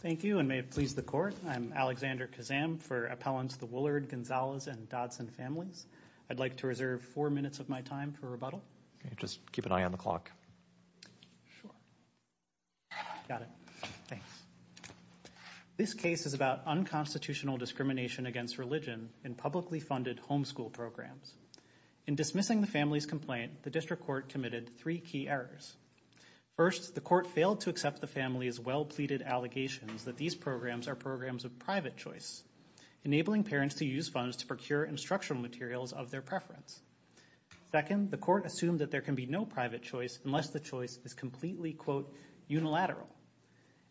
Thank you and may it please the court. I'm Alexander Kazam for appellants the Woullard, Gonzalez, and Dodson families. I'd like to reserve four minutes of my time for rebuttal. Just keep an eye on the clock. This case is about unconstitutional discrimination against religion in publicly funded homeschool programs. In dismissing the family's complaint, the court committed three key errors. First, the court failed to accept the family's well-pleaded allegations that these programs are programs of private choice, enabling parents to use funds to procure instructional materials of their preference. Second, the court assumed that there can be no private choice unless the choice is completely, quote, unilateral.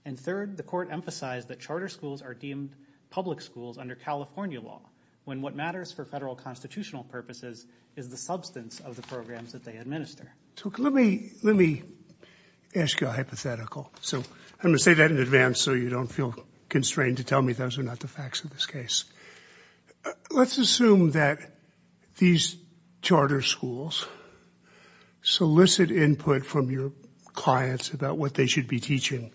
And third, the court emphasized that charter schools are deemed public schools under California law when what matters for federal constitutional purposes is the substance of the programs that they administer. Let me let me ask you a hypothetical. So I'm gonna say that in advance so you don't feel constrained to tell me those are not the facts of this case. Let's assume that these charter schools solicit input from your clients about what they should be teaching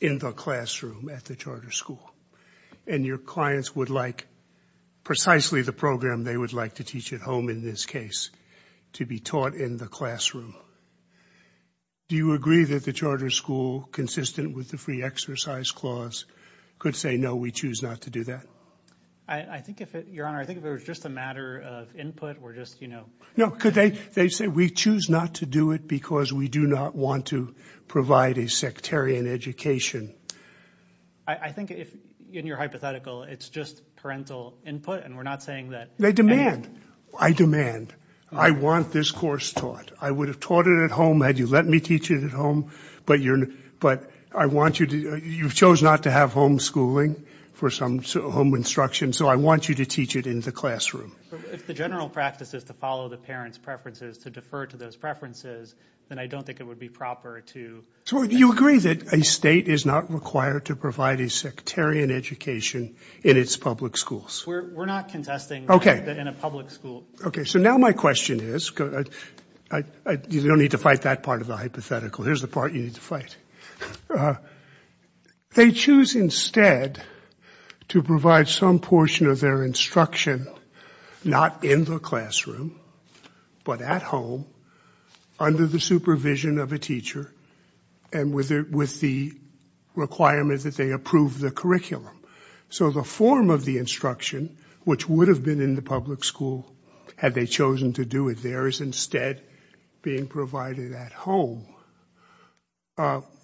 in the classroom at the charter school and your clients would like precisely the program they would like to teach at home in this case to be taught in the classroom. Do you agree that the charter school, consistent with the free exercise clause, could say no, we choose not to do that? I think if it, Your Honor, I think if it was just a matter of input, we're just, you know... No, could they say we choose not to do it because we do not want to provide a sectarian education? I think if, in your hypothetical, it's just parental input and we're not saying that... They demand. I demand. I want this course taught. I would have taught it at home had you let me teach it at home, but you're, but I want you to, you've chose not to have homeschooling for some home instruction, so I want you to teach it in the classroom. If the general practice is to follow the parents' preferences, to defer to those preferences, then I don't think it would be proper to... So you agree that a state is not required to provide a sectarian education in its public schools? We're not contesting that in a public school. Okay, so now my question is, you don't need to fight that part of the hypothetical, here's the part you need to fight. They choose instead to provide some portion of their instruction, not in the classroom, but at home, under the supervision of a teacher and with the requirement that they approve the curriculum. So the form of the instruction, which would have been in the public school, had they chosen to do it there, is instead being provided at home.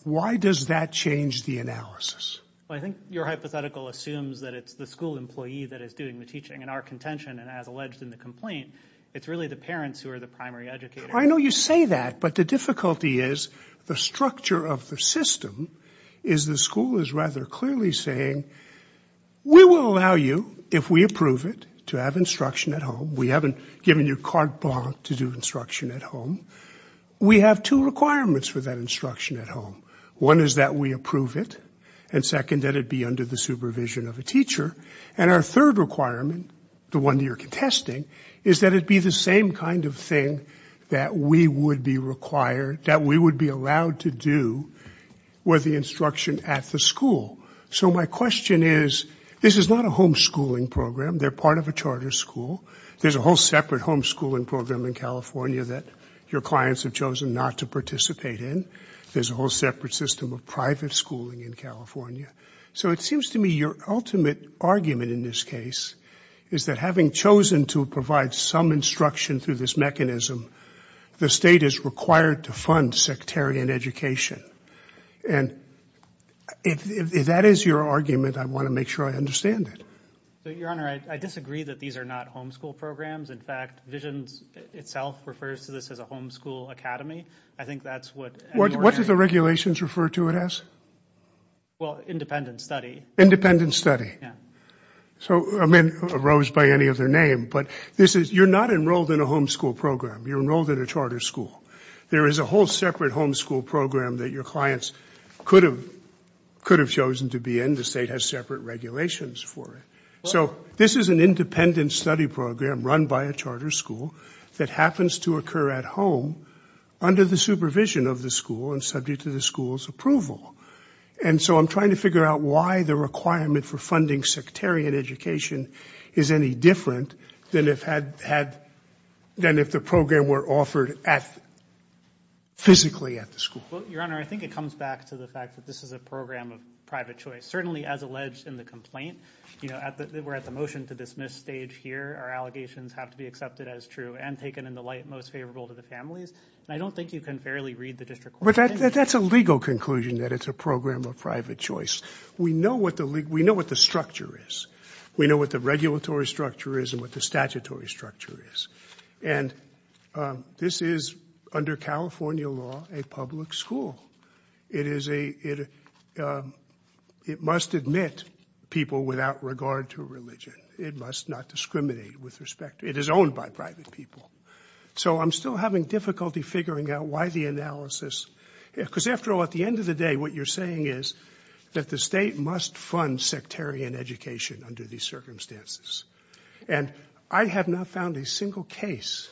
Why does that change the analysis? I think your hypothetical assumes that it's the school employee that is doing the teaching, and our contention, and as alleged in the complaint, it's really the parents who are the primary educators. I know you say that, but the difficulty is the structure of the system is the school is rather clearly saying, we will allow you, if we approve it, to have instruction at home. We haven't given you carte blanche to do instruction at home. We have two requirements for that instruction at home. One is that we approve it, and second, that it be under the supervision of a teacher. And our third requirement, the one that you're contesting, is that it be the same kind of thing that we would be required, that we would be allowed to do with the instruction at the school. So my question is, this is not a homeschooling program. They're part of a charter school. There's a whole separate homeschooling program in California that your clients have chosen not to participate in. There's a whole separate system of private schooling in California. So it seems to me your ultimate argument in this case is that having chosen to provide some instruction through this mechanism, the state is required to fund sectarian education. And if that is your argument, I want to make sure I understand it. Your Honor, I disagree that these are not homeschool programs. In fact, Visions itself refers to this as a homeschool academy. I think that's what... What do the regulations refer to it as? Well, independent study. Independent study. So, I mean, arose by any other name, but this is, you're not enrolled in a homeschool program. You're enrolled in a charter school. There is a whole separate homeschool program that your clients could have chosen to be in. The state has separate regulations for it. So this is an independent study program run by a charter school that happens to occur at home under the supervision of the school and subject to the school's approval. And so I'm trying to figure out why the requirement for funding sectarian education is any different than if the program were offered physically at the school. Well, Your Honor, I think it comes back to the fact that this is a program of private choice. Certainly, as alleged in the complaint, you know, we're at the motion to dismiss stage here. Our allegations have to be accepted as true and taken in the light most favorable to the families. And I don't think you can fairly read the district court. But that's a legal conclusion that it's a program of private choice. We know what the structure is. We know what the regulatory structure is and what the regulatory structure is. And this is, under California law, a public school. It is a it it must admit people without regard to religion. It must not discriminate with respect. It is owned by private people. So I'm still having difficulty figuring out why the analysis, because after all, at the end of the day, what you're saying is that the state must fund sectarian education under these circumstances. And I have not found a single case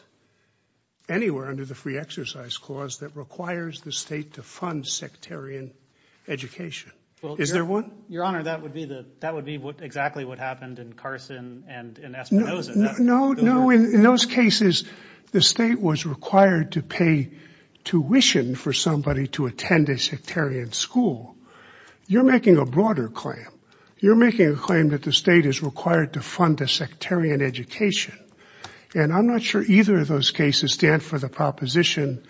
anywhere under the free exercise clause that requires the state to fund sectarian education. Is there one? Your Honor, that would be the that would be exactly what happened in Carson and Espinosa. No, no, no. In those cases, the state was required to pay tuition for somebody to attend a sectarian school. You're making a broader claim. You're making a claim that the state is required to fund a sectarian education. And I'm not sure either of those cases stand for the proposition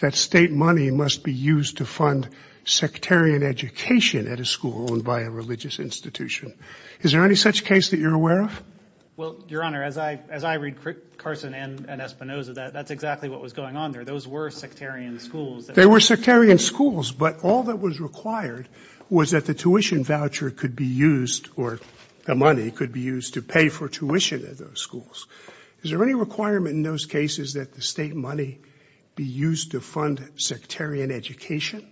that state money must be used to fund sectarian education at a school owned by a religious institution. Is there any such case that you're aware of? Well, Your Honor, as I as I read Carson and Espinosa, that that's exactly what was going on there. Those were sectarian schools. They were sectarian schools, but all that was required was that the tuition voucher could be used or the money could be used to pay for tuition at those schools. Is there any requirement in those cases that the state money be used to fund sectarian education?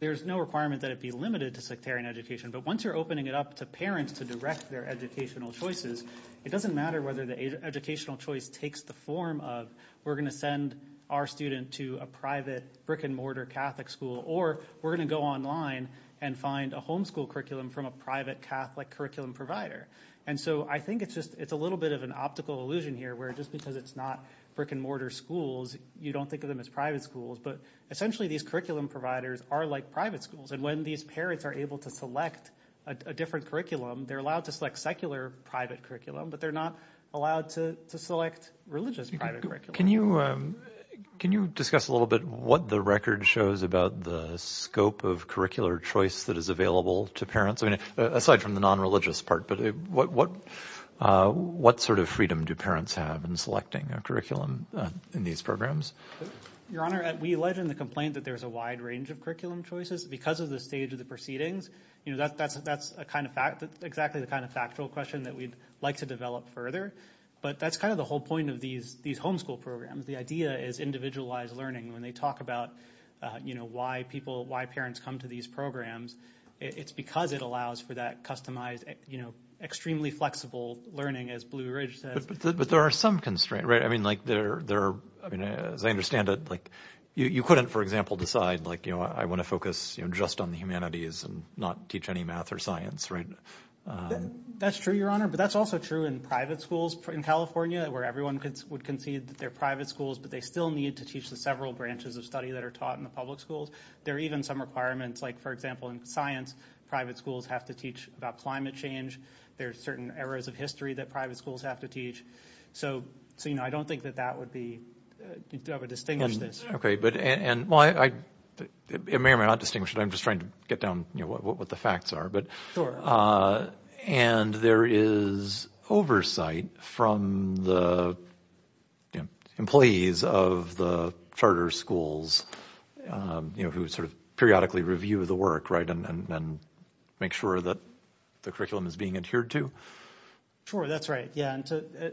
There is no requirement that it be limited to sectarian education. But once you're opening it up to parents to direct their educational choices, it doesn't matter whether the educational choice takes the form of we're going to send our student to a private brick and mortar Catholic school or we're going to go online and find a homeschool curriculum from a private Catholic curriculum provider. And so I think it's just it's a little bit of an optical illusion here, where just because it's not brick and mortar schools, you don't think of them as private schools. But essentially, these curriculum providers are like private schools. And when these parents are able to select a different curriculum, they're allowed to select secular, private curriculum, but they're not allowed to select religious. Can you can you discuss a little bit what the record shows about the scope of curricular choice that is available to parents? I mean, aside from the non-religious part, but what what sort of freedom do parents have in selecting a curriculum in these programs? Your Honor, we allege in the complaint that there is a wide range of curriculum choices because of the stage of the proceedings. You know, that's that's that's a kind of fact that exactly the kind of factual question that we'd like to develop further. But that's kind of the whole point of these these homeschool programs. The idea is individualized learning when they talk about, you know, why people why parents come to these programs. It's because it allows for that customized, you know, extremely flexible learning, as Blue Ridge says. But there are some constraints. Right. I mean, like there there. I mean, as I understand it, like you couldn't, for example, decide, like, you know, I want to focus just on the humanities and not teach any math or science. Right. That's true, Your Honor. But that's also true in private schools in California where everyone would concede that they're private schools, but they still need to teach the several branches of study that are taught in the public schools. There are even some requirements, like, for example, in science, private schools have to teach about climate change. There are certain eras of history that private schools have to teach. So, you know, I don't think that that would be to have a distinguished this. OK, but and why I may or may not distinguish that I'm just trying to get down what the facts are. But and there is oversight from the employees of the charter schools who sort of periodically review the work. Right. And then make sure that the curriculum is being adhered to. Sure. That's right. Yeah.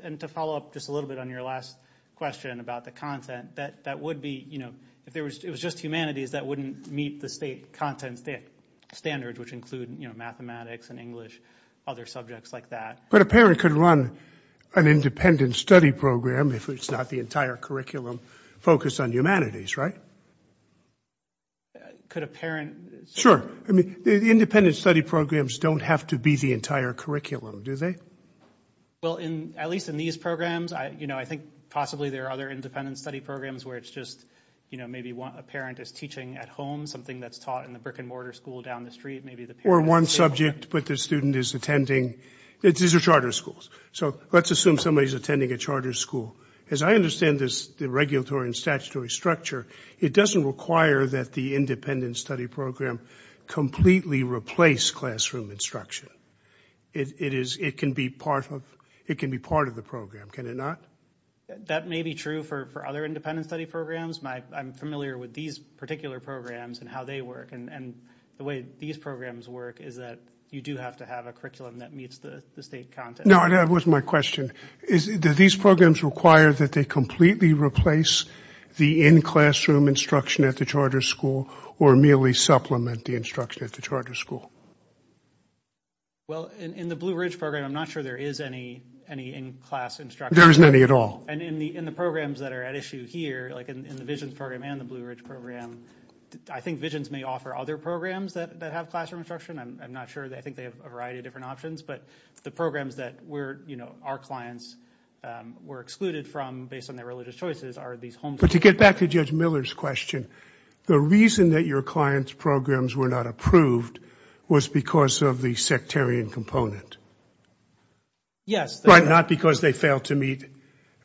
And to follow up just a little bit on your last question about the content that that would be, you know, if there was it was just humanities, that wouldn't meet the state content standards, which include mathematics and English, other subjects like that. But a parent could run an independent study program if it's not the entire curriculum focused on humanities. Right. Could a parent. Sure. I mean, the independent study programs don't have to be the entire curriculum, do they? Well, in at least in these programs, you know, I think possibly there are other independent study programs where it's just, you know, maybe a parent is teaching at home something that's taught in the brick and mortar school down the street. Maybe the or one subject. But the student is attending these charter schools. So let's assume somebody is attending a charter school. As I understand this, the regulatory and statutory structure, it doesn't require that the independent study program completely replace classroom instruction. It is it can be part of it can be part of the program. Can it not? That may be true for other independent study programs. I'm familiar with these particular programs and how they work. And the way these programs work is that you do have to have a curriculum that meets the state content. No, that was my question. Is that these programs require that they completely replace the in-classroom instruction at the charter school or merely supplement the instruction at the charter school? Well, in the Blue Ridge program, I'm not sure there is any any in-class instruction. There isn't any at all. And in the in the programs that are at issue here, like in the vision program and the Blue Ridge program, I think visions may offer other programs that have classroom instruction. I'm not sure. I think they have a variety of different options. But the programs that were, you know, our clients were excluded from based on their religious choices are these homes. But to get back to Judge Miller's question, the reason that your clients programs were not approved was because of the sectarian component. Yes, but not because they failed to meet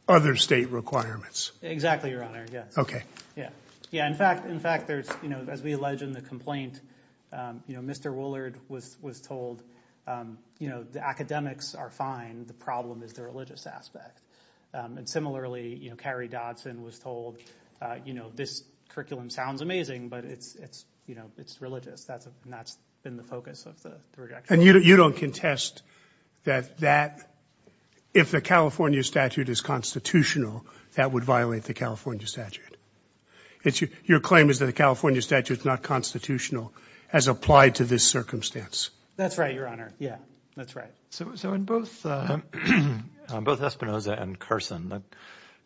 other state requirements. Exactly. Yes. OK. Yeah. Yeah. In fact, in fact, there's, you know, as we allege in the complaint, you know, Mr. Willard was was told, you know, the academics are fine. The problem is the religious aspect. And similarly, you know, Carrie Dodson was told, you know, this curriculum sounds amazing, but it's it's you know, it's religious. That's not been the focus of the project. And you don't contest that that if the California statute is constitutional, that would violate the California statute. It's your claim is that the California statute is not constitutional as applied to this circumstance. That's right, Your Honor. Yeah, that's right. So in both both Espinosa and Carson, the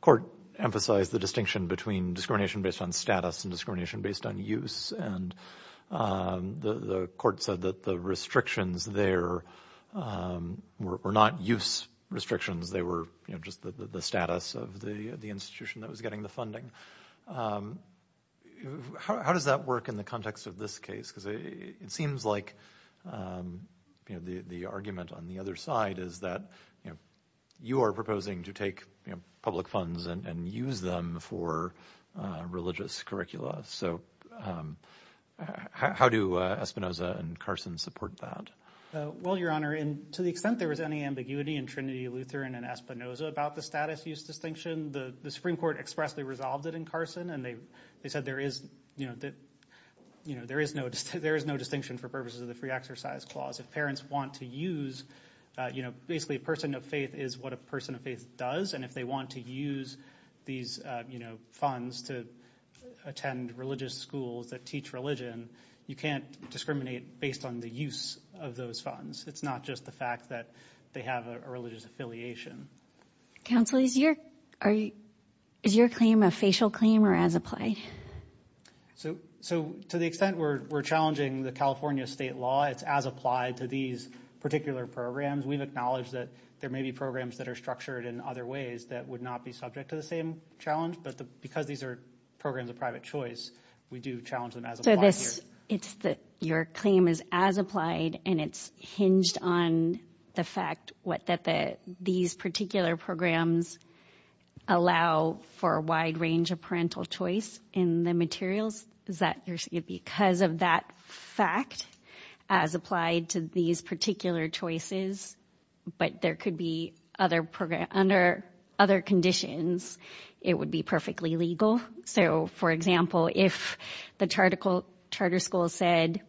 court emphasized the distinction between discrimination based on status and discrimination based on use. And the court said that the restrictions there were not use restrictions. They were just the status of the institution that was getting the funding. How does that work in the context of this case? Because it seems like, you know, the argument on the other side is that, you know, you are proposing to take public funds and use them for religious curricula. So how do Espinosa and Carson support that? Well, Your Honor, and to the extent there was any ambiguity in Trinity Lutheran and Espinosa about the status use distinction, the Supreme Court expressly resolved it in Carson and they they said there is, you know, that, you know, there is no there is no distinction for purposes of the free exercise clause. If parents want to use, you know, basically a person of faith is what a person of faith does. And if they want to use these funds to attend religious schools that teach religion, you can't discriminate based on the use of those funds. It's not just the fact that they have a religious affiliation. Counsel, is your claim a facial claim or as applied? So to the extent we're challenging the California state law, it's as applied to these particular programs. We've acknowledged that there may be programs that are structured in other ways that would not be subject to the same challenge. But because these are programs of private choice, we do challenge them as applied here. It's that your claim is as applied and it's hinged on the fact what that these particular programs allow for a wide range of parental choice in the materials. Is that because of that fact as applied to these particular choices? But there could be other programs under other conditions. It would be perfectly legal. So, for example, if the charter school said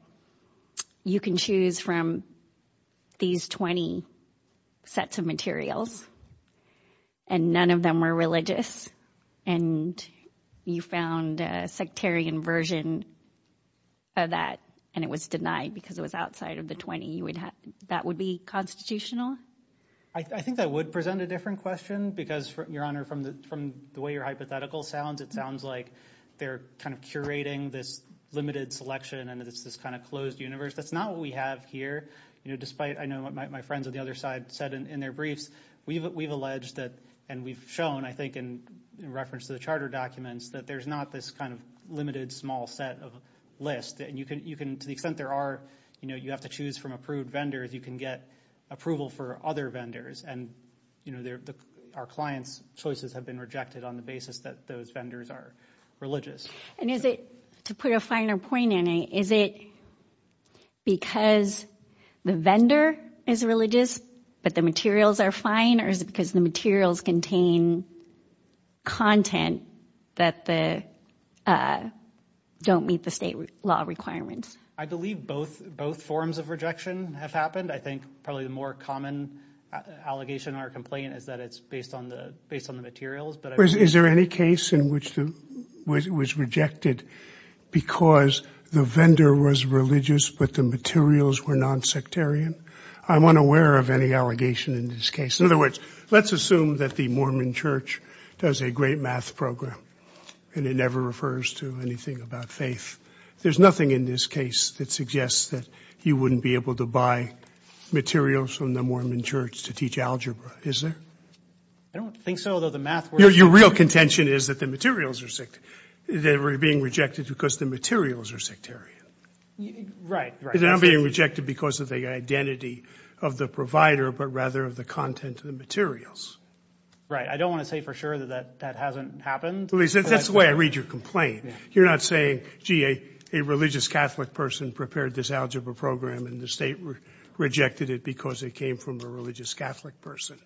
you can choose from these 20 sets of materials and none of them were religious and you found a sectarian version of that. And it was denied because it was outside of the 20, you would have that would be constitutional. I think that would present a different question because, Your Honor, from the from the way your hypothetical sounds, it sounds like they're kind of curating this limited selection and it's this kind of closed universe. That's not what we have here. You know, despite I know what my friends on the other side said in their briefs, we've we've alleged that and we've shown, I think, in reference to the charter documents, that there's not this kind of limited small set of list that you can you can to the extent there are, you know, you have to choose from approved vendors, you can get approval for other vendors. And, you know, our clients choices have been rejected on the basis that those vendors are religious. And is it to put a finer point in it? Is it because the vendor is religious, but the materials are fine? Or is it because the materials contain content that the don't meet the state law requirements? I believe both both forms of rejection have happened. I think probably the more common allegation or complaint is that it's based on the based on the materials. But is there any case in which it was rejected because the vendor was religious, but the materials were non sectarian? I'm unaware of any allegation in this case. In other words, let's assume that the Mormon Church does a great math program and it never refers to anything about faith. There's nothing in this case that suggests that you wouldn't be able to buy materials from the Mormon Church to teach algebra, is there? I don't think so, though. The math. Your real contention is that the materials are sick. They were being rejected because the materials are sectarian. Right. Right. I'm being rejected because of the identity of the provider, but rather of the content of the materials. Right. I don't want to say for sure that that hasn't happened. That's the way I read your complaint. You're not saying, gee, a religious Catholic person prepared this algebra program and the state rejected it because it came from a religious Catholic person.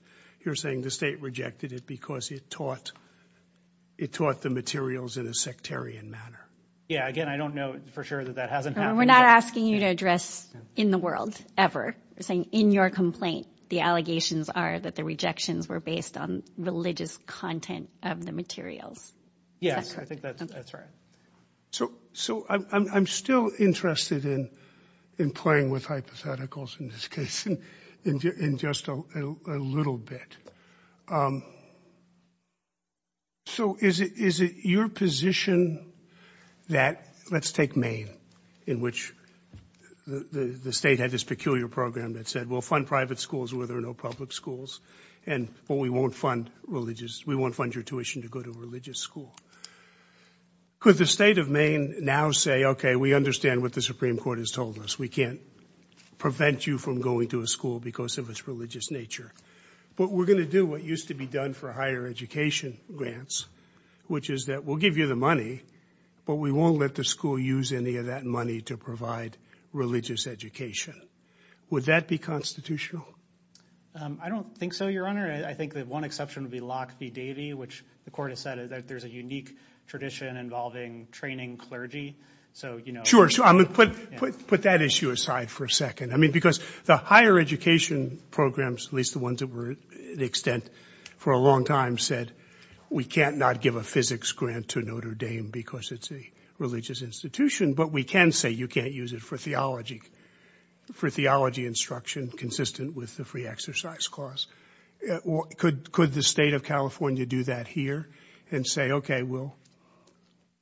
You're saying the state rejected it because it taught it taught the materials in a sectarian manner. Yeah. Again, I don't know for sure that that hasn't happened. We're not asking you to address in the world ever saying in your complaint, the allegations are that the rejections were based on religious content of the materials. Yes, I think that's right. So so I'm still interested in in playing with hypotheticals in this case in just a little bit. So is it is it your position that let's take Maine, in which the state had this peculiar program that said, well, fund private schools where there are no public schools. And we won't fund religious. We won't fund your tuition to go to a religious school. Could the state of Maine now say, OK, we understand what the Supreme Court has told us. We can't prevent you from going to a school because of its religious nature. But we're going to do what used to be done for higher education grants, which is that we'll give you the money, but we won't let the school use any of that money to provide religious education. Would that be constitutional? I don't think so, Your Honor. I think that one exception would be Lockheed Davy, which the court has said that there's a unique tradition involving training clergy. So, you know, sure. I'm going to put put that issue aside for a second. I mean, because the higher education programs, at least the ones that were the extent for a long time, said we can't not give a physics grant to Notre Dame because it's a religious institution. But we can say you can't use it for theology, for theology instruction consistent with the free exercise class. Could the state of California do that here and say, OK, well.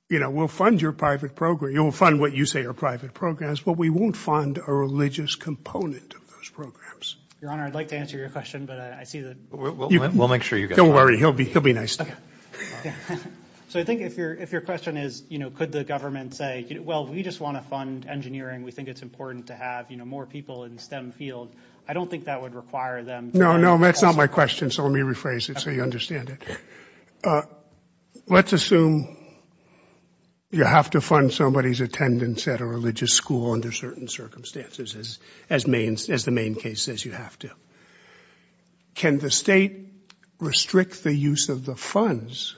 You know, we'll fund your private program, you'll fund what you say are private programs, but we won't fund a religious component of those programs. Your Honor, I'd like to answer your question, but I see that we'll make sure you don't worry. He'll be he'll be nice. So I think if you're if your question is, you know, could the government say, well, we just want to fund engineering. We think it's important to have more people in STEM field. I don't think that would require them. No, no. That's not my question. So let me rephrase it so you understand it. Let's assume you have to fund somebody's attendance at a religious school under certain circumstances as as means as the main case says you have to. Can the state restrict the use of the funds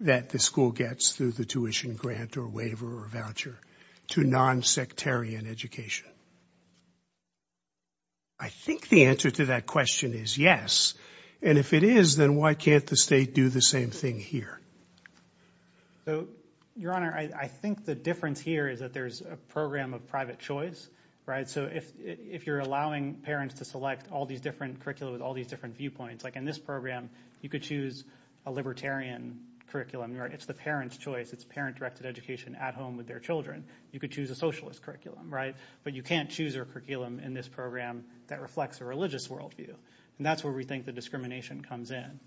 that the school gets through the tuition grant or waiver or voucher to non sectarian education? I think the answer to that question is yes, and if it is, then why can't the state do the same thing here? So, Your Honor, I think the difference here is that there's a program of private choice. Right. So if if you're allowing parents to select all these different curriculum with all these different viewpoints like in this program, you could choose a libertarian curriculum. It's the parents choice. It's parent directed education at home with their children. You could choose a socialist curriculum. Right. But you can't choose a curriculum in this program that reflects a religious worldview. And that's where we think the discrimination comes in.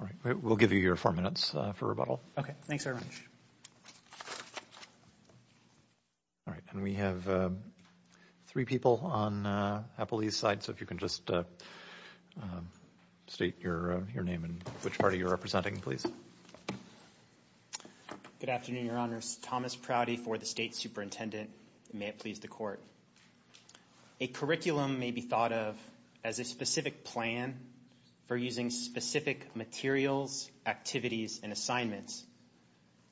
All right. We'll give you your four minutes for rebuttal. OK, thanks very much. All right. And we have three people on the police side. So if you can just state your name and which party you're representing, please. Good afternoon, Your Honor. Thomas Prouty for the state superintendent. May it please the court. A curriculum may be thought of as a specific plan for using specific materials, activities and assignments.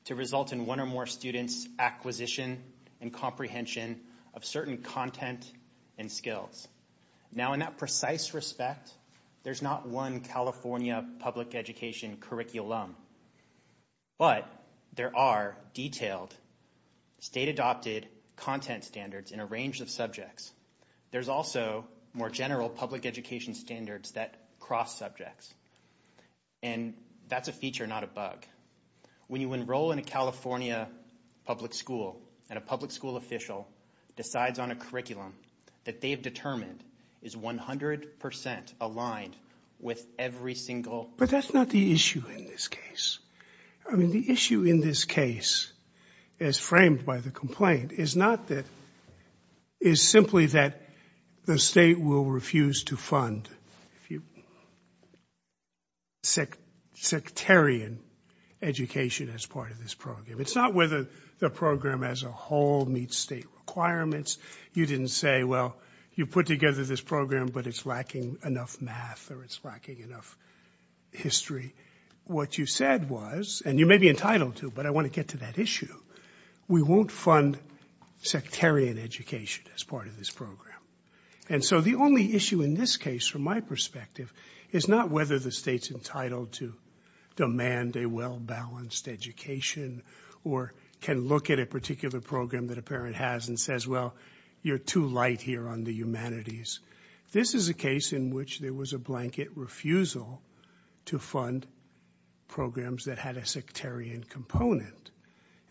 To result in one or more students acquisition and comprehension of certain content and skills. Now, in that precise respect, there's not one California public education curriculum. But there are detailed state adopted content standards in a range of subjects. There's also more general public education standards that cross subjects. And that's a feature, not a bug. When you enroll in a California public school and a public school official decides on a curriculum that they've determined is 100 percent aligned with every single. But that's not the issue in this case. I mean, the issue in this case is framed by the complaint. It's not that is simply that the state will refuse to fund. If you. Sectarian education as part of this program, it's not whether the program as a whole meets state requirements. You didn't say, well, you put together this program, but it's lacking enough math or it's lacking enough history. What you said was and you may be entitled to, but I want to get to that issue. We won't fund sectarian education as part of this program. And so the only issue in this case, from my perspective, is not whether the state's entitled to demand a well-balanced education. Or can look at a particular program that a parent has and says, well, you're too light here on the humanities. This is a case in which there was a blanket refusal to fund programs that had a sectarian component.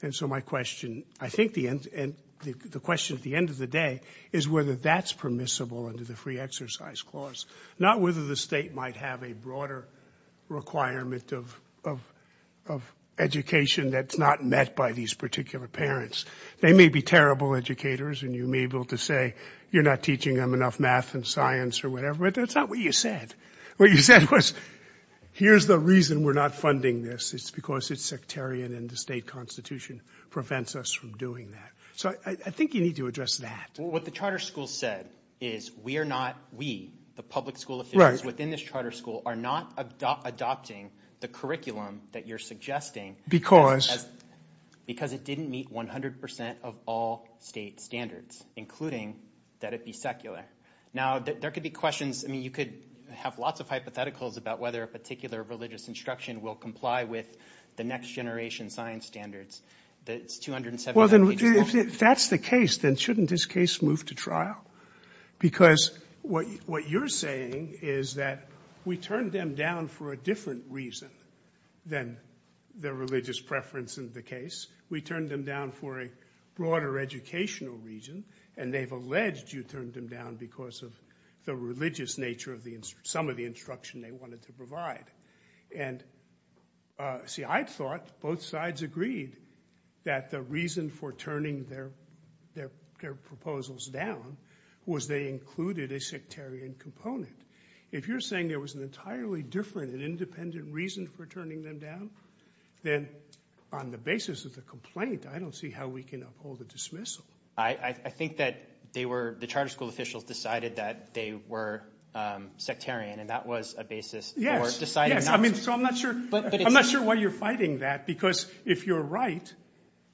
And so my question, I think the end and the question at the end of the day is whether that's permissible under the free exercise clause, not whether the state might have a broader requirement of of of education that's not met by these particular parents. They may be terrible educators and you may be able to say you're not teaching them enough math and science or whatever. But that's not what you said. What you said was here's the reason we're not funding this. It's because it's sectarian and the state constitution prevents us from doing that. So I think you need to address that. What the charter school said is we are not. Charter school are not adopting the curriculum that you're suggesting because because it didn't meet 100 percent of all state standards, including that it be secular. Now, there could be questions. I mean, you could have lots of hypotheticals about whether a particular religious instruction will comply with the next generation science standards. Well, then if that's the case, then shouldn't this case move to trial? Because what what you're saying is that we turned them down for a different reason than their religious preference in the case. We turned them down for a broader educational region and they've alleged you turned them down because of the religious nature of the some of the instruction they wanted to provide. And see, I thought both sides agreed that the reason for turning their their their proposals down was they included a sectarian component. If you're saying there was an entirely different and independent reason for turning them down, then on the basis of the complaint, I don't see how we can uphold the dismissal. I think that they were the charter school officials decided that they were sectarian and that was a basis. Yes. I mean, so I'm not sure. But I'm not sure why you're fighting that, because if you're right,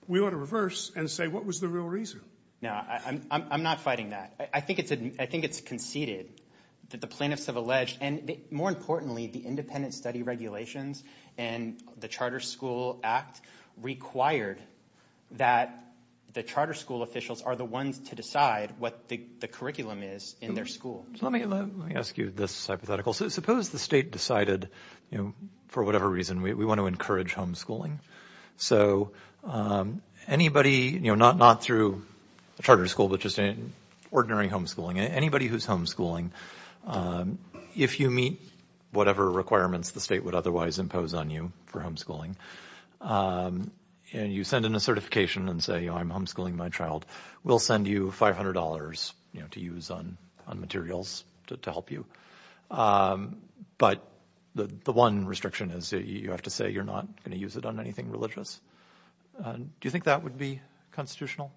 we ought to reverse and say what was the real reason? Now, I'm not fighting that. I think it's I think it's conceded that the plaintiffs have alleged and more importantly, the independent study regulations and the Charter School Act required that the charter school officials are the ones to decide what the curriculum is in their school. Let me let me ask you this hypothetical. So suppose the state decided, you know, for whatever reason, we want to encourage homeschooling. So anybody, you know, not not through the charter school, but just an ordinary homeschooling, anybody who's homeschooling, if you meet whatever requirements the state would otherwise impose on you for homeschooling and you send in a certification and say, I'm homeschooling my child, we'll send you five hundred dollars to use on materials to help you. But the one restriction is you have to say you're not going to use it on anything religious. Do you think that would be constitutional?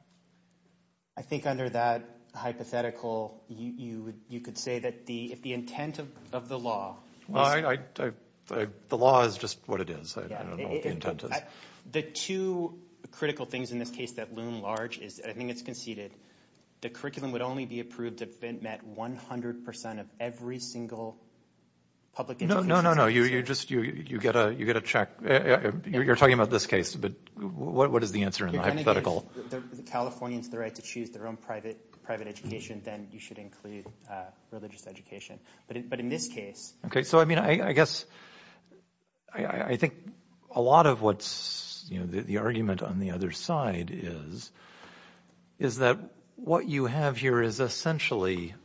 I think under that hypothetical, you would you could say that the if the intent of the law. Well, the law is just what it is. I don't know what the intent is. The two critical things in this case that loom large is I think it's conceded the curriculum would only be approved if it met 100 percent of every single public. No, no, no, no. You just you get a you get a check. You're talking about this case. But what is the answer in the hypothetical? The Californians the right to choose their own private private education, then you should include religious education. But in this case, OK, so, I mean, I guess I think a lot of what's the argument on the other side is, is that what you have here is essentially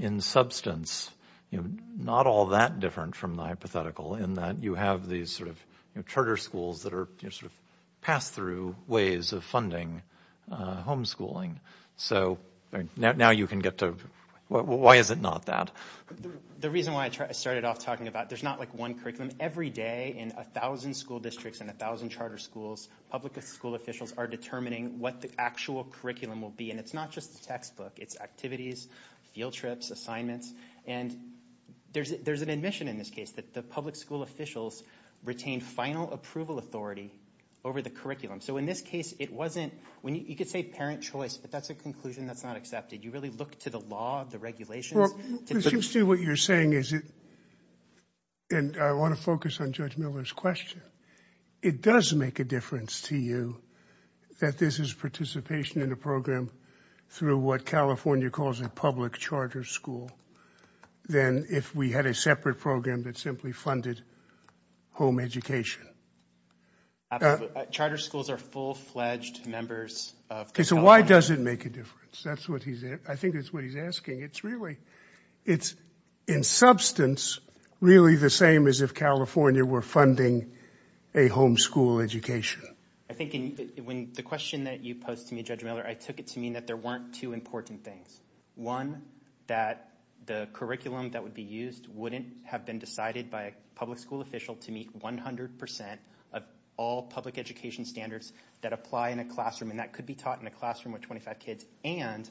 in substance, you know, not all that different from the hypothetical in that you have these sort of charter schools that are sort of pass through ways of funding homeschooling. So now you can get to why is it not that the reason why I started off talking about there's not like one curriculum every day in a thousand school districts and a thousand charter schools. Public school officials are determining what the actual curriculum will be. And it's not just the textbook. It's activities, field trips, assignments. And there's there's an admission in this case that the public school officials retain final approval authority over the curriculum. So in this case, it wasn't when you could say parent choice, but that's a conclusion that's not accepted. You really look to the law, the regulations to do what you're saying. Is it? And I want to focus on Judge Miller's question. It does make a difference to you that this is participation in a program through what California calls a public charter school. Then if we had a separate program that simply funded home education. Charter schools are full fledged members of. So why does it make a difference? That's what he said. I think that's what he's asking. It's really it's in substance, really the same as if California were funding a homeschool education. I think when the question that you posed to me, Judge Miller, I took it to mean that there weren't two important things. One, that the curriculum that would be used wouldn't have been decided by a public school official to meet 100 percent of all public education standards that apply in a classroom. And that could be taught in a classroom with 25 kids and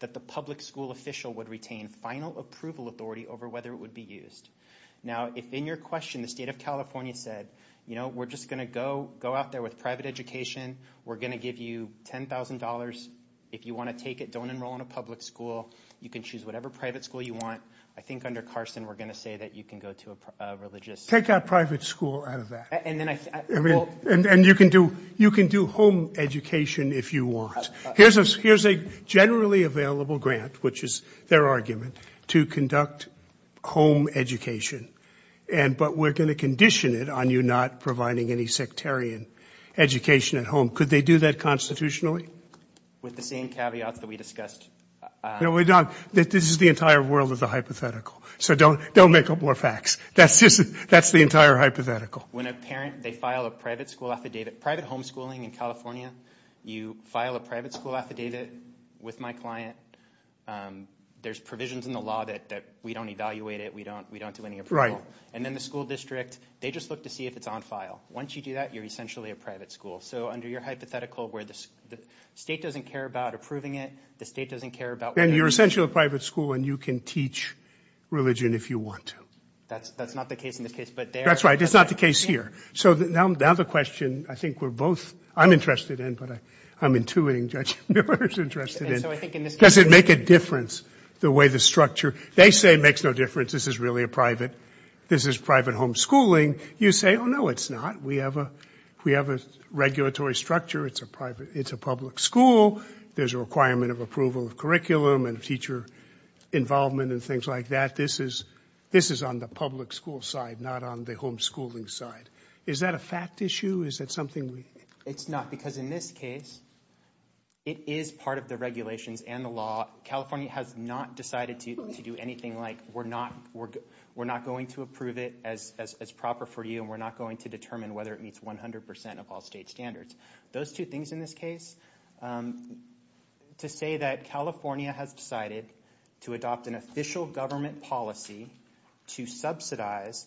that the public school official would retain final approval authority over whether it would be used. Now, if in your question, the state of California said, you know, we're just going to go go out there with private education. We're going to give you ten thousand dollars if you want to take it. Don't enroll in a public school. You can choose whatever private school you want. I think under Carson, we're going to say that you can go to a religious, take a private school out of that. And then I mean, and you can do you can do home education if you want. Here's a here's a generally available grant, which is their argument to conduct home education. And but we're going to condition it on you not providing any sectarian education at home. Could they do that constitutionally with the same caveats that we discussed? No, we're not. This is the entire world of the hypothetical. So don't don't make up more facts. That's just that's the entire hypothetical. When a parent they file a private school affidavit, private homeschooling in California, you file a private school affidavit with my client. There's provisions in the law that we don't evaluate it. We don't we don't do any. Right. And then the school district, they just look to see if it's on file. Once you do that, you're essentially a private school. So under your hypothetical where the state doesn't care about approving it, the state doesn't care about. And you're essentially a private school and you can teach religion if you want to. That's that's not the case in this case. But that's right. It's not the case here. So now the question I think we're both I'm interested in. But I'm intuiting Judge Miller's interest in it. Does it make a difference the way the structure they say makes no difference? This is really a private. This is private homeschooling. You say, oh, no, it's not. We have a we have a regulatory structure. It's a private it's a public school. There's a requirement of approval of curriculum and teacher involvement and things like that. This is this is on the public school side, not on the homeschooling side. Is that a fact issue? Is that something? It's not because in this case. It is part of the regulations and the law. California has not decided to do anything like we're not we're we're not going to approve it as as proper for you. And we're not going to determine whether it meets 100 percent of all state standards. Those two things in this case to say that California has decided to adopt an official government policy to subsidize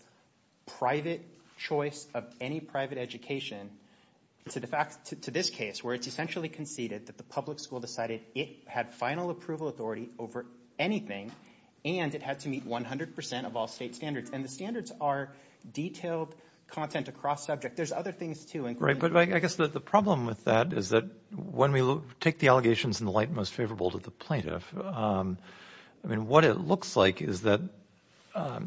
private choice of any private education. It's a fact to this case where it's essentially conceded that the public school decided it had final approval authority over anything. And it had to meet 100 percent of all state standards. And the standards are detailed content across subject. There's other things, too. Right. But I guess the problem with that is that when we take the allegations in the light, most favorable to the plaintiff. I mean, what it looks like is that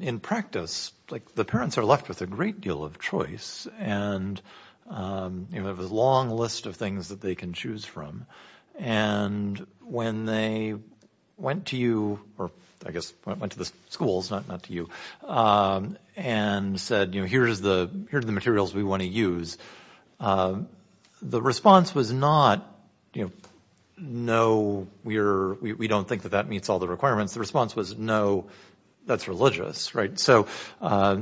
in practice, like the parents are left with a great deal of choice. And, you know, there's a long list of things that they can choose from. And when they went to you or I guess went to the schools, not to you, and said, you know, here's the here's the materials we want to use. The response was not, you know, no, we're we don't think that that meets all the requirements. The response was, no, that's religious. Right. So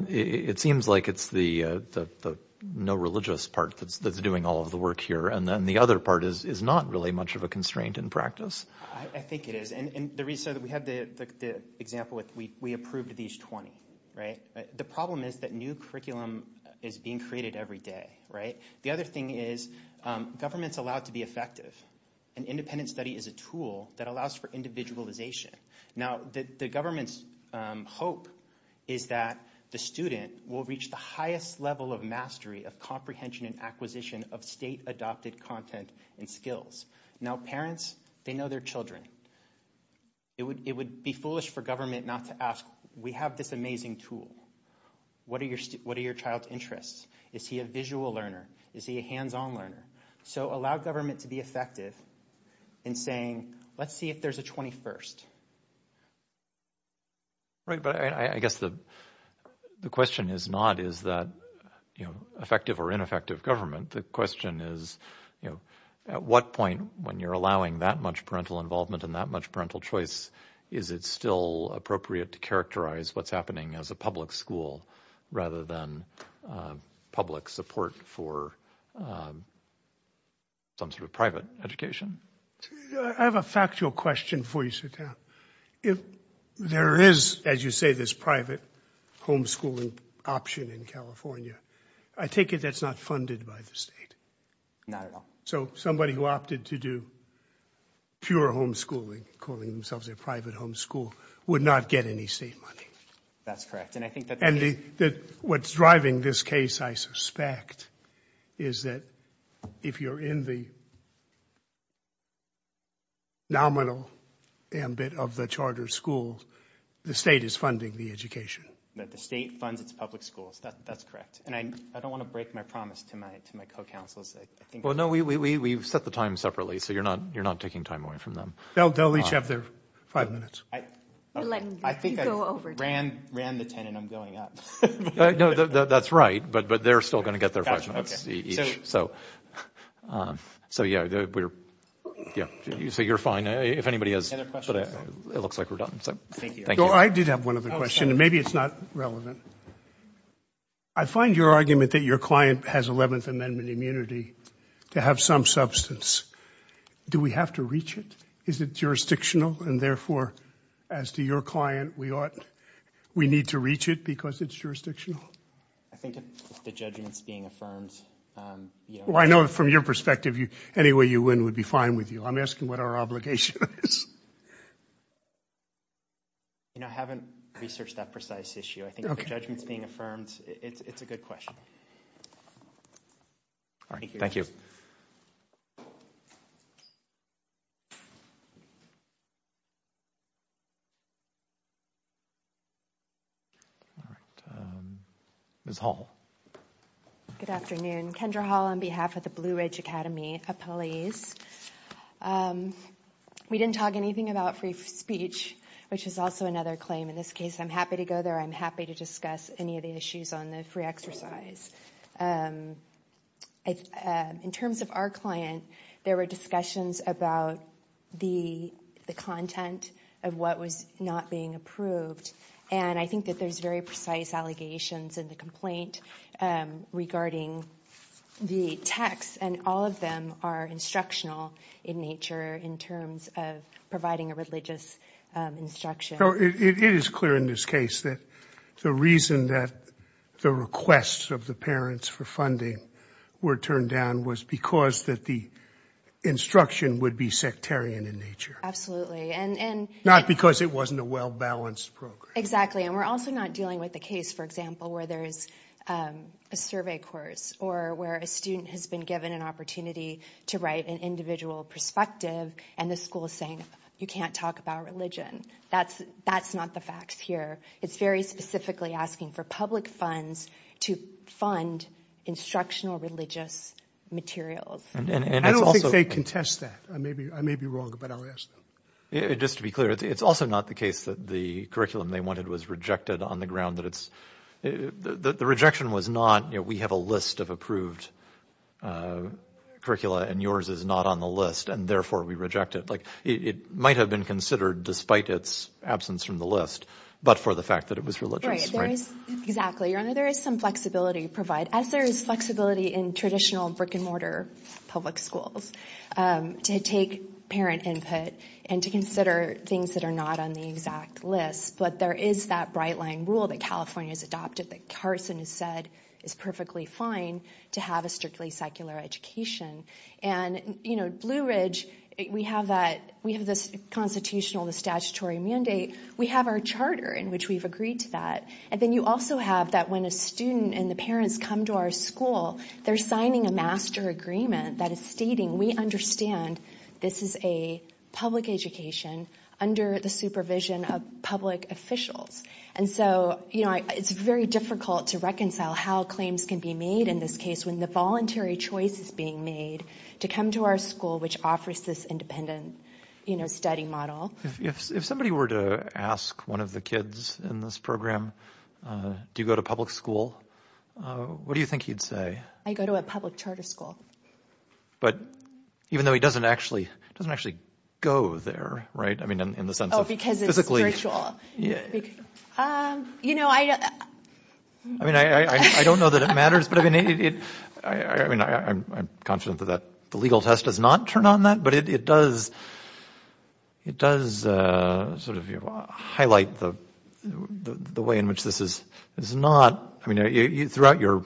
it seems like it's the no religious part that's doing all of the work here. And then the other part is is not really much of a constraint in practice. I think it is. And the reason that we have the example with we we approved these 20. Right. The problem is that new curriculum is being created every day. Right. The other thing is governments allowed to be effective. An independent study is a tool that allows for individualization. Now, the government's hope is that the student will reach the highest level of mastery of comprehension and acquisition of state adopted content and skills. Now, parents, they know their children. It would it would be foolish for government not to ask. We have this amazing tool. What are your what are your child's interests? Is he a visual learner? Is he a hands on learner? So allow government to be effective in saying, let's see if there's a 21st. Right. But I guess the the question is not is that, you know, effective or ineffective government. The question is, you know, at what point when you're allowing that much parental involvement and that much parental choice, is it still appropriate to characterize what's happening as a public school rather than public support for. Some sort of private education. I have a factual question for you. If there is, as you say, this private homeschooling option in California, I take it that's not funded by the state. Not at all. So somebody who opted to do. Pure homeschooling, calling themselves a private homeschool, would not get any state money. That's correct. And I think that what's driving this case, I suspect, is that if you're in the. Nominal ambit of the charter school, the state is funding the education that the state funds, it's public schools. That's correct. And I don't want to break my promise to my to my co-councils. Well, no, we we we've set the time separately. So you're not you're not taking time away from them. They'll they'll each have their five minutes. I think I ran ran the 10 and I'm going up. That's right. But but they're still going to get there. So. So, yeah, we're. Yeah. So you're fine. If anybody has a question, it looks like we're done. I did have one other question and maybe it's not relevant. I find your argument that your client has 11th Amendment immunity to have some substance. Do we have to reach it? Is it jurisdictional? And therefore, as to your client, we ought. We need to reach it because it's jurisdictional. I think the judgments being affirmed. Well, I know from your perspective, anyway, you win would be fine with you. I'm asking what our obligation is. You know, I haven't researched that precise issue. I think the judgment's being affirmed. It's a good question. Thank you. Ms. Hall. Good afternoon, Kendra Hall, on behalf of the Blue Ridge Academy, a police. We didn't talk anything about free speech, which is also another claim in this case. I'm happy to go there. I'm happy to discuss any of the issues on the free exercise. It's not a free speech. It's a free exercise. In terms of our client, there were discussions about the content of what was not being approved. And I think that there's very precise allegations in the complaint regarding the text. And all of them are instructional in nature in terms of providing a religious instruction. It is clear in this case that the reason that the requests of the parents for funding were turned down was because that the instruction would be sectarian in nature. Absolutely. And not because it wasn't a well-balanced program. Exactly. And we're also not dealing with the case, for example, where there is a survey course or where a student has been given an opportunity to write an individual perspective. And the school is saying you can't talk about religion. That's that's not the facts here. It's very specifically asking for public funds to fund instructional religious materials. And I don't think they contest that. Maybe I may be wrong, but I'll ask just to be clear. It's also not the case that the curriculum they wanted was rejected on the ground that it's the rejection was not. You know, we have a list of approved curricula and yours is not on the list and therefore we reject it. Like it might have been considered despite its absence from the list, but for the fact that it was religious. Right. Exactly. There is some flexibility to provide as there is flexibility in traditional brick and mortar public schools to take parent input and to consider things that are not on the exact list. But there is that bright line rule that California has adopted that Carson has said is perfectly fine to have a strictly secular education. And, you know, Blue Ridge, we have that we have this constitutional, the statutory mandate. We have our charter in which we've agreed to that. And then you also have that when a student and the parents come to our school, they're signing a master agreement that is stating we understand this is a public education under the supervision of public officials. And so, you know, it's very difficult to reconcile how claims can be made in this case when the voluntary choice is being made to come to our school, which offers this independent study model. If somebody were to ask one of the kids in this program, do you go to public school? What do you think he'd say? I go to a public charter school. But even though he doesn't actually doesn't actually go there. Right. I mean, in the sense of because physically, you know, I mean, I don't know that it matters, but I mean, I mean, I'm confident that the legal test does not turn on that. But it does. It does sort of highlight the the way in which this is is not. I mean, throughout your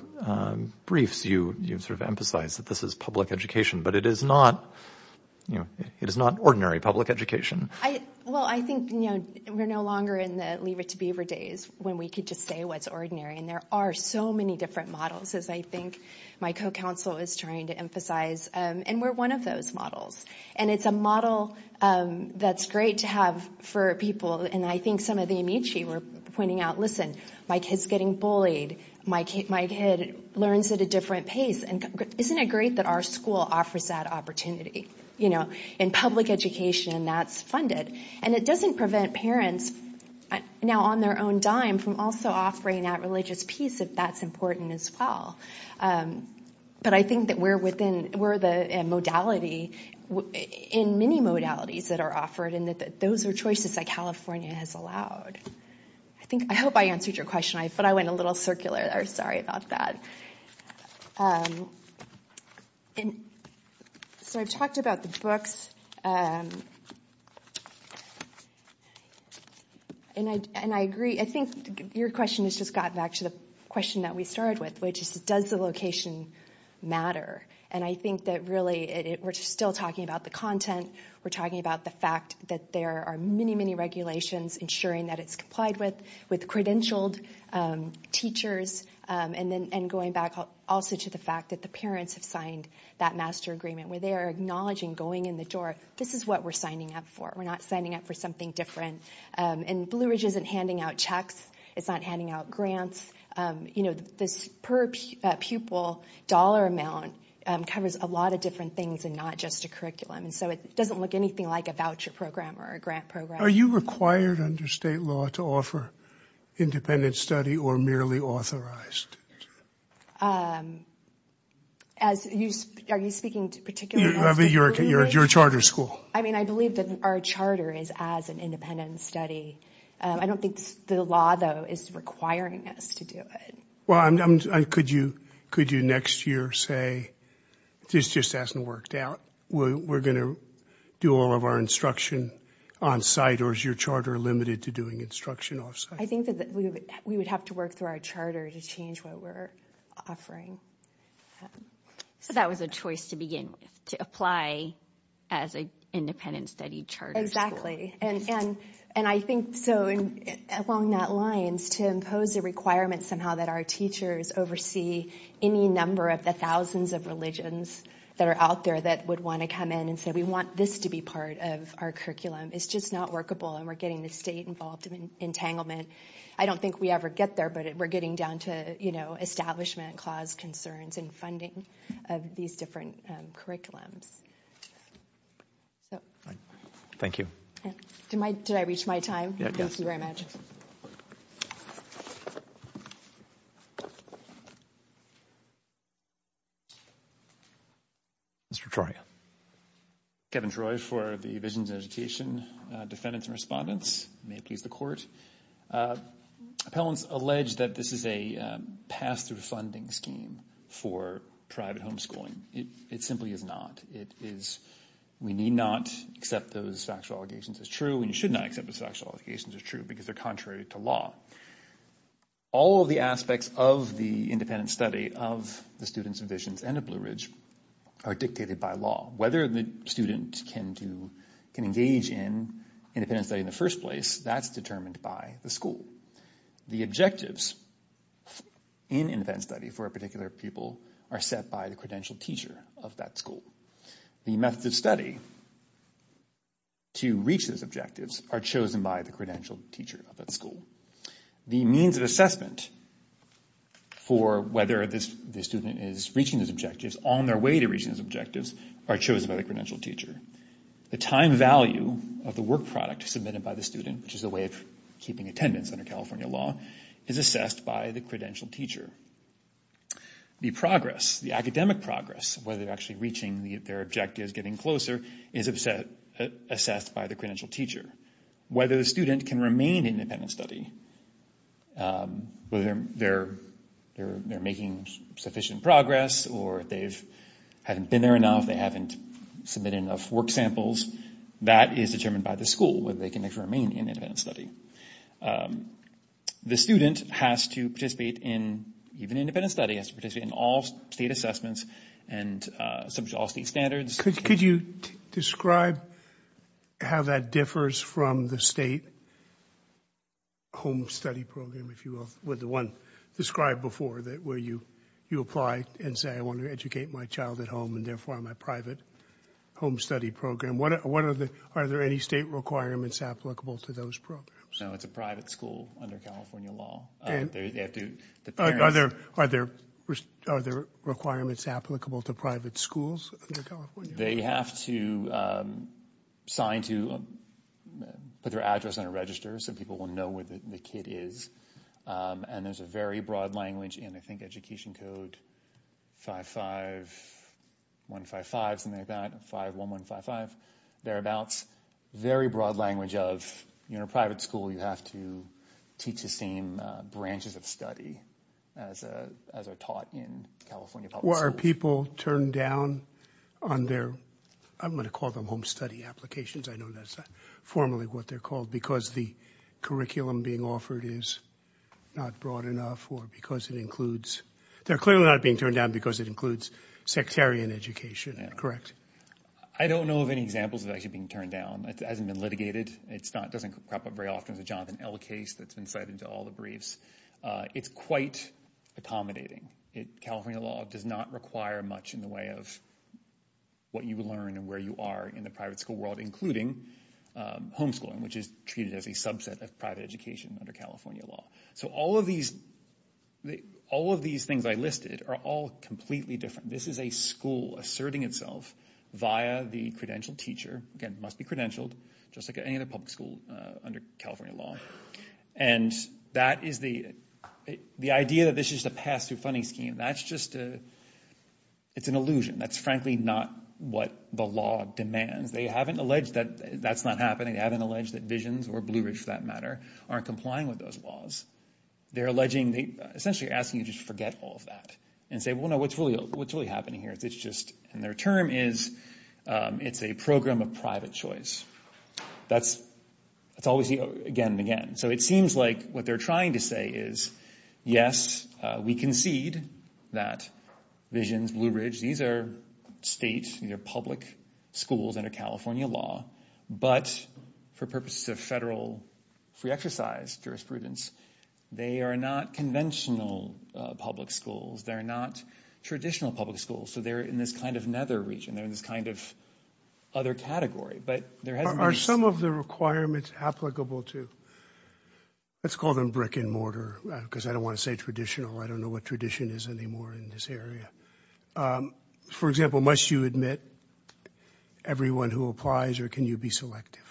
briefs, you sort of emphasize that this is public education, but it is not, you know, it is not ordinary public education. I well, I think, you know, we're no longer in the leave it to be over days when we could just say what's ordinary. And there are so many different models, as I think my co-counsel is trying to emphasize. And we're one of those models. And it's a model that's great to have for people. And I think some of the Amici were pointing out, listen, my kids getting bullied. My kid, my kid learns at a different pace. And isn't it great that our school offers that opportunity? You know, in public education, that's funded and it doesn't prevent parents now on their own dime from also offering that religious piece of that's important as well. But I think that we're within where the modality in many modalities that are offered and that those are choices that California has allowed. I think I hope I answered your question, but I went a little circular. Sorry about that. And so I've talked about the books. And I and I agree. I think your question has just gotten back to the question that we started with, which is, does the location matter? And I think that really we're still talking about the content. We're talking about the fact that there are many, many regulations ensuring that it's complied with with credentialed teachers. And then going back also to the fact that the parents have signed that master agreement where they are acknowledging going in the door. This is what we're signing up for. We're not signing up for something different. And Blue Ridge isn't handing out checks. It's not handing out grants. You know, this per pupil dollar amount covers a lot of different things and not just a curriculum. And so it doesn't look anything like a voucher program or a grant program. Are you required under state law to offer independent study or merely authorized? As you are, you're speaking to particularly your your charter school. I mean, I believe that our charter is as an independent study. I don't think the law, though, is requiring us to do it. Well, could you could you next year say this just hasn't worked out? We're going to do all of our instruction on site. Or is your charter limited to doing instruction? I think that we would have to work through our charter to change what we're offering. So that was a choice to begin to apply as an independent study charter. Exactly. And and and I think so. And along that lines to impose a requirement somehow that our teachers oversee any number of the thousands of religions that are out there that would want to come in and say, we want this to be part of our curriculum. It's just not workable. And we're getting the state involved in entanglement. I don't think we ever get there, but we're getting down to, you know, establishment clause concerns and funding of these different curriculums. So thank you to my did I reach my time? Thank you very much. Mr. Troy. Kevin Troy for the division's education defendants and respondents may please the court. Appellants allege that this is a pass through funding scheme for private homeschooling. It simply is not. It is. We need not accept those factual allegations as true. And you should not accept the factual allegations are true because they're contrary to law. All of the aspects of the independent study of the students and visions and a Blue Ridge are dictated by law. Whether the student can do can engage in independent study in the first place, that's determined by the school. The objectives in independent study for a particular people are set by the credential teacher of that school. The method of study. To reach those objectives are chosen by the credential teacher of that school. The means of assessment for whether this student is reaching those objectives on their way to reach those objectives are chosen by the credential teacher. The time value of the work product submitted by the student, which is a way of keeping attendance under California law, is assessed by the credential teacher. The progress, the academic progress, whether they're actually reaching their objectives, getting closer, is assessed by the credential teacher. Whether the student can remain in independent study, whether they're making sufficient progress or they haven't been there enough, they haven't submitted enough work samples, that is determined by the school, whether they can remain in independent study. The student has to participate in even independent study, has to participate in all state assessments and all state standards. Could you describe how that differs from the state home study program, if you will, with the one described before, where you apply and say I want to educate my child at home and therefore my private home study program. Are there any state requirements applicable to those programs? No, it's a private school under California law. Are there requirements applicable to private schools under California law? They have to sign to put their address on a register so people will know where the kid is. And there's a very broad language in, I think, Education Code 55155, something like that, 51155, thereabouts. Very broad language of, in a private school, you have to teach the same branches of study as are taught in California public school. Are people turned down on their, I'm going to call them home study applications, I know that's not formally what they're called, because the curriculum being offered is not broad enough or because it includes, they're clearly not being turned down because it includes sectarian education, correct? I don't know of any examples of it actually being turned down. It hasn't been litigated. It doesn't crop up very often. There's a Jonathan L. case that's been cited in all the briefs. It's quite accommodating. California law does not require much in the way of what you learn and where you are in the private school world, including homeschooling, which is treated as a subset of private education under California law. So all of these things I listed are all completely different. This is a school asserting itself via the credentialed teacher. Again, must be credentialed, just like any other public school under California law. And that is the idea that this is just a pass-through funding scheme. That's just a, it's an illusion. That's frankly not what the law demands. They haven't alleged that that's not happening. They haven't alleged that Visions, or Blue Ridge for that matter, aren't complying with those laws. They're alleging, essentially asking you to just forget all of that and say, well, no, what's really happening here? It's just, and their term is, it's a program of private choice. That's all we see again and again. So it seems like what they're trying to say is, yes, we concede that Visions, Blue Ridge, these are states, these are public schools under California law. But for purposes of federal free exercise jurisprudence, they are not conventional public schools. They're not traditional public schools. So they're in this kind of nether region. They're in this kind of other category. But there has been – Are some of the requirements applicable to, let's call them brick and mortar because I don't want to say traditional. I don't know what tradition is anymore in this area. For example, must you admit everyone who applies or can you be selective?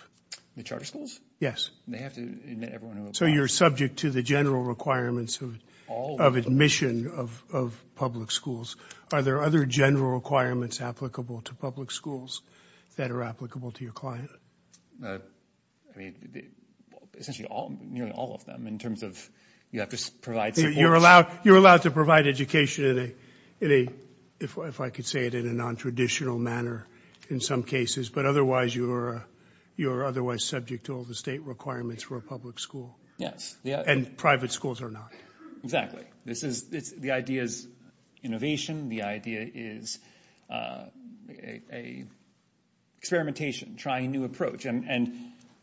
The charter schools? Yes. They have to admit everyone who applies. So you're subject to the general requirements of admission of public schools. Are there other general requirements applicable to public schools that are applicable to your client? Essentially all, nearly all of them in terms of you have to provide support. So you're allowed to provide education in a, if I could say it in a nontraditional manner in some cases, but otherwise you're otherwise subject to all the state requirements for a public school. Yes. And private schools are not. Exactly. The idea is innovation. The idea is experimentation, trying a new approach. And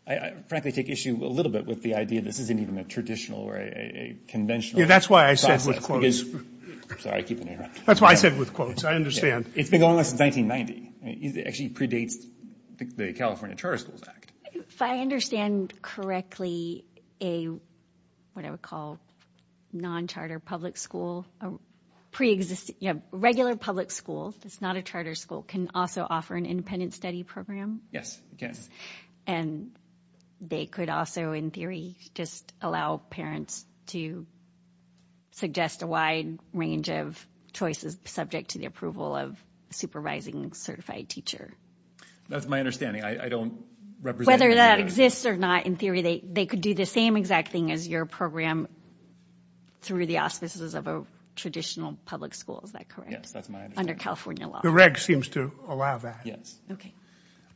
I frankly take issue a little bit with the idea this isn't even a traditional or a conventional process. Yeah, that's why I said with quotes. Sorry, I keep interrupting. That's why I said with quotes. I understand. It's been going on since 1990. It actually predates the California Charter Schools Act. If I understand correctly, a, what I would call non-charter public school, pre-existing, a regular public school that's not a charter school can also offer an independent study program? Yes, it can. And they could also, in theory, just allow parents to suggest a wide range of choices subject to the approval of a supervising certified teacher? That's my understanding. I don't represent. Whether that exists or not, in theory, they could do the same exact thing as your program through the auspices of a traditional public school. Is that correct? Yes, that's my understanding. Under California law. The reg seems to allow that. Yes. Okay.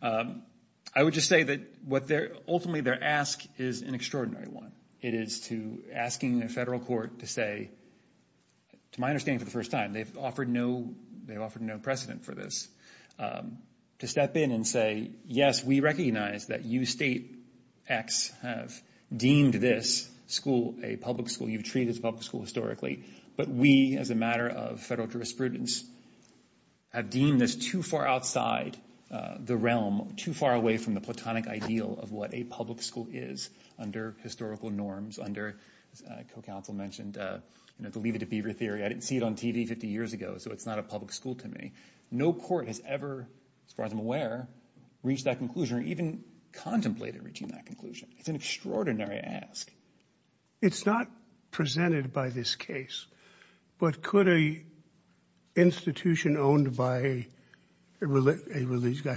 I would just say that ultimately their ask is an extraordinary one. It is to asking a federal court to say, to my understanding for the first time, they've offered no precedent for this, to step in and say, yes, we recognize that you state X have deemed this school a public school. You've treated this public school historically. But we, as a matter of federal jurisprudence, have deemed this too far outside the realm, too far away from the platonic ideal of what a public school is under historical norms, under co-counsel mentioned, you know, the Leave it to Beaver theory. I didn't see it on TV 50 years ago, so it's not a public school to me. No court has ever, as far as I'm aware, reached that conclusion or even contemplated reaching that conclusion. It's an extraordinary ask. It's not presented by this case, but could an institution owned by a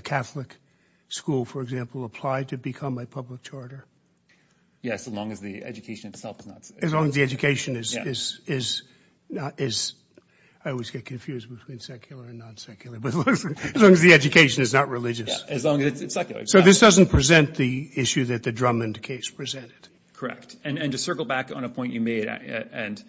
Catholic school, for example, apply to become a public charter? Yes, as long as the education itself is not. As long as the education is, I always get confused between secular and non-secular, but as long as the education is not religious. As long as it's secular. So this doesn't present the issue that the Drummond case presented? Correct. And to circle back on a point you made, and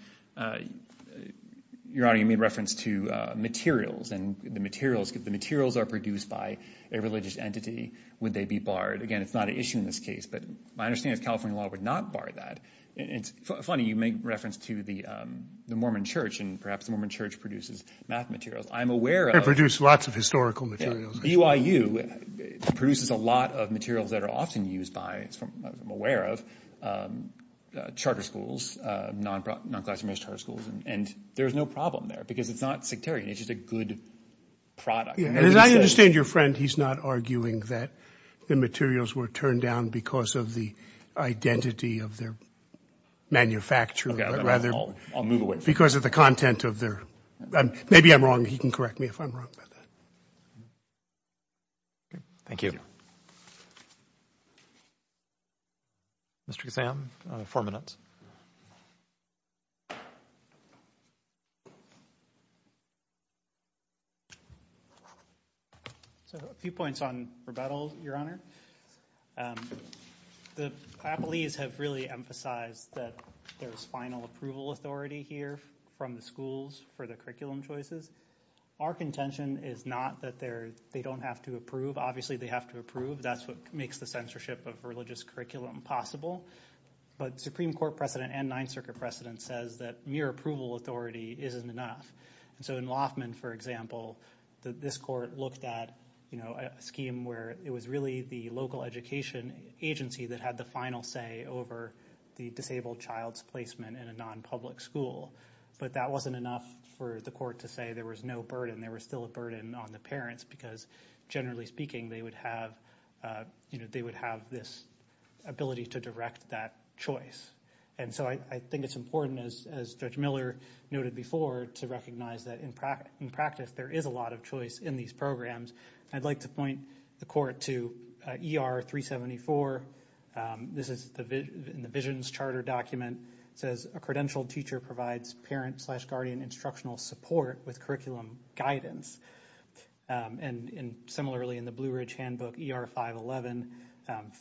Your Honor, you made reference to materials and the materials, if the materials are produced by a religious entity, would they be barred? Again, it's not an issue in this case, but my understanding is California law would not bar that. It's funny, you make reference to the Mormon Church, and perhaps the Mormon Church produces math materials. I'm aware of. They produce lots of historical materials. BYU produces a lot of materials that are often used by, as I'm aware of, charter schools, non-classified charter schools, and there's no problem there because it's not sectarian. It's just a good product. As I understand your friend, he's not arguing that the materials were turned down because of the identity of their manufacturer, but rather because of the content of their, maybe I'm wrong. He can correct me if I'm wrong about that. Thank you. Mr. Ghassan, four minutes. A few points on rebuttal, Your Honor. The Applees have really emphasized that there's final approval authority here from the schools for the curriculum choices. Our contention is not that they don't have to approve. Obviously, they have to approve. That's what makes the censorship of religious curriculum possible, but Supreme Court precedent and Ninth Circuit precedent says that mere approval authority isn't enough. In Loffman, for example, this court looked at a scheme where it was really the local education agency that had the final say over the disabled child's placement in a non-public school, but that wasn't enough for the court to say there was no burden. There was still a burden on the parents because, generally speaking, they would have this ability to direct that choice. I think it's important, as Judge Miller noted before, to recognize that, in practice, there is a lot of choice in these programs. I'd like to point the court to ER 374. This is in the Visions Charter document. It says, A credentialed teacher provides parent-slash-guardian instructional support with curriculum guidance. Similarly, in the Blue Ridge Handbook, ER 511,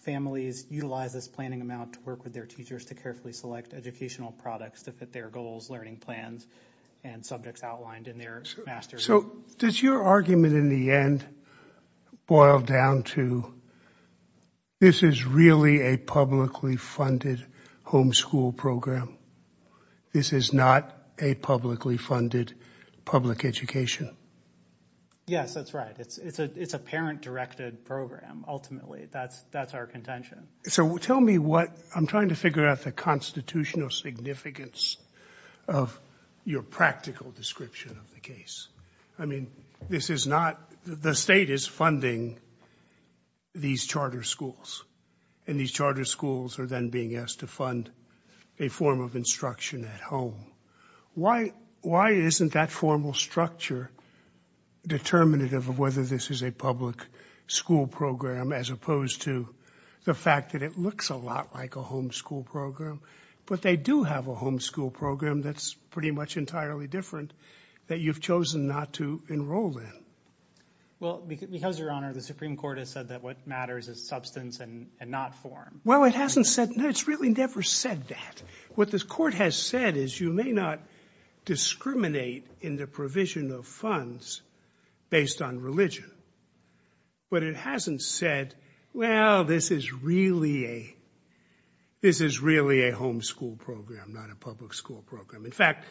families utilize this planning amount to work with their teachers to carefully select educational products to fit their goals, learning plans, and subjects outlined in their master plan. So does your argument in the end boil down to this is really a publicly funded homeschool program? This is not a publicly funded public education? Yes, that's right. It's a parent-directed program, ultimately. That's our contention. So tell me what—I'm trying to figure out the constitutional significance of your practical description of the case. I mean, this is not—the state is funding these charter schools, and these charter schools are then being asked to fund a form of instruction at home. Why isn't that formal structure determinative of whether this is a public school program as opposed to the fact that it looks a lot like a homeschool program? But they do have a homeschool program that's pretty much entirely different that you've chosen not to enroll in. Well, because, Your Honor, the Supreme Court has said that what matters is substance and not form. Well, it hasn't said—it's really never said that. What the court has said is you may not discriminate in the provision of funds based on religion, but it hasn't said, well, this is really a homeschool program, not a public school program. In fact,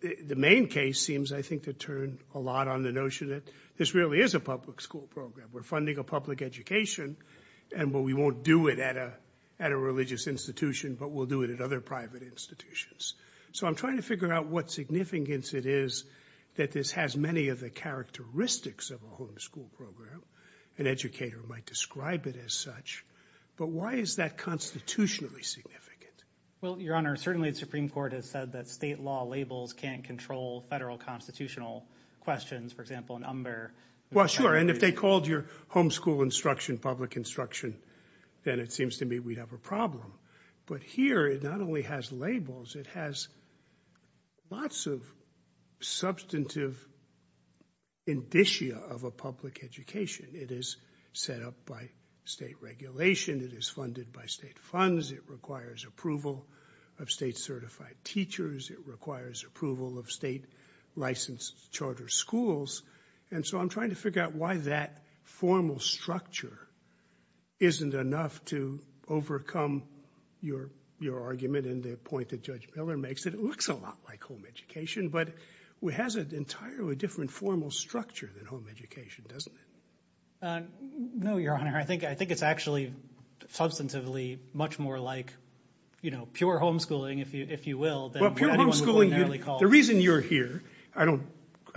the main case seems, I think, to turn a lot on the notion that this really is a public school program. We're funding a public education, and we won't do it at a religious institution, but we'll do it at other private institutions. So I'm trying to figure out what significance it is that this has many of the characteristics of a homeschool program. An educator might describe it as such. But why is that constitutionally significant? Well, Your Honor, certainly the Supreme Court has said that state law labels can't control federal constitutional questions. For example, in Umber— Well, sure, and if they called your homeschool instruction public instruction, then it seems to me we'd have a problem. But here it not only has labels, it has lots of substantive indicia of a public education. It is set up by state regulation. It is funded by state funds. It requires approval of state-certified teachers. It requires approval of state-licensed charter schools. And so I'm trying to figure out why that formal structure isn't enough to overcome your argument and the point that Judge Miller makes. It looks a lot like home education, but it has an entirely different formal structure than home education, doesn't it? No, Your Honor. I think it's actually substantively much more like, you know, pure homeschooling, if you will. Pure homeschooling, the reason you're here— I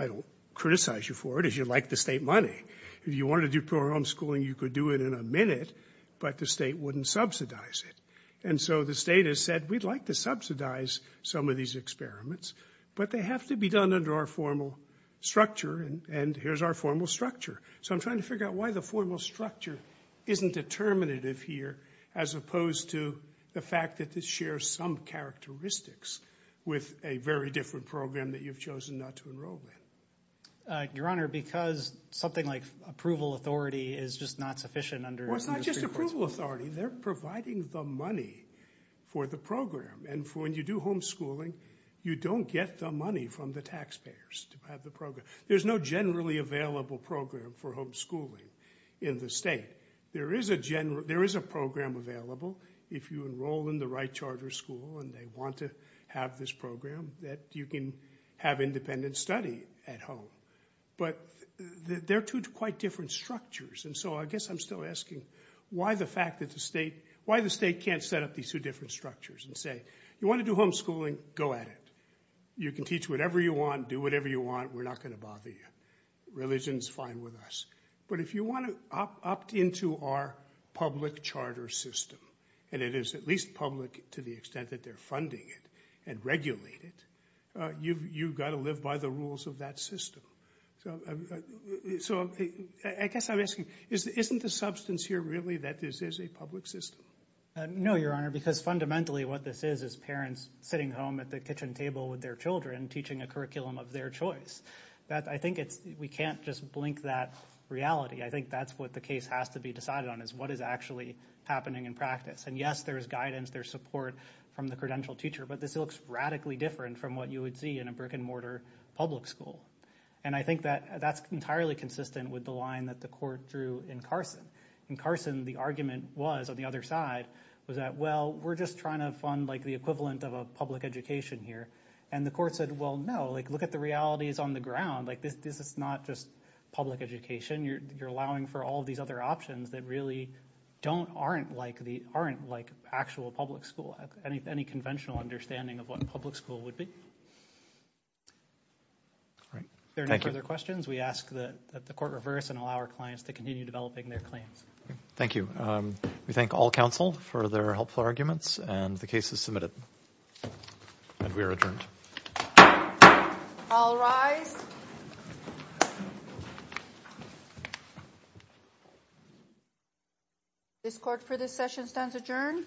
don't criticize you for it, as you like the state money. If you wanted to do pure homeschooling, you could do it in a minute, but the state wouldn't subsidize it. And so the state has said, we'd like to subsidize some of these experiments, but they have to be done under our formal structure, and here's our formal structure. So I'm trying to figure out why the formal structure isn't determinative here as opposed to the fact that this shares some characteristics with a very different program that you've chosen not to enroll in. Your Honor, because something like approval authority is just not sufficient under— Well, it's not just approval authority. They're providing the money for the program, and when you do homeschooling, you don't get the money from the taxpayers to have the program. There's no generally available program for homeschooling in the state. There is a program available if you enroll in the right charter school and they want to have this program that you can have independent study at home. But they're two quite different structures, and so I guess I'm still asking why the state can't set up these two different structures and say, you want to do homeschooling, go at it. You can teach whatever you want, do whatever you want. We're not going to bother you. Religion is fine with us. But if you want to opt into our public charter system, and it is at least public to the extent that they're funding it and regulate it, you've got to live by the rules of that system. So I guess I'm asking, isn't the substance here really that this is a public system? No, Your Honor, because fundamentally what this is is parents sitting home at the kitchen table with their children teaching a curriculum of their choice. I think we can't just blink that reality. I think that's what the case has to be decided on is what is actually happening in practice. And yes, there is guidance, there is support from the credentialed teacher, but this looks radically different from what you would see in a brick-and-mortar public school. And I think that that's entirely consistent with the line that the court drew in Carson. In Carson, the argument was, on the other side, was that, well, we're just trying to fund the equivalent of a public education here. And the court said, well, no, look at the realities on the ground. This is not just public education. You're allowing for all these other options that really aren't like actual public school, any conventional understanding of what a public school would be. If there are no further questions, we ask that the court reverse and allow our clients to continue developing their claims. Thank you. We thank all counsel for their helpful arguments, and the case is submitted. And we are adjourned. All rise. This court for this session stands adjourned.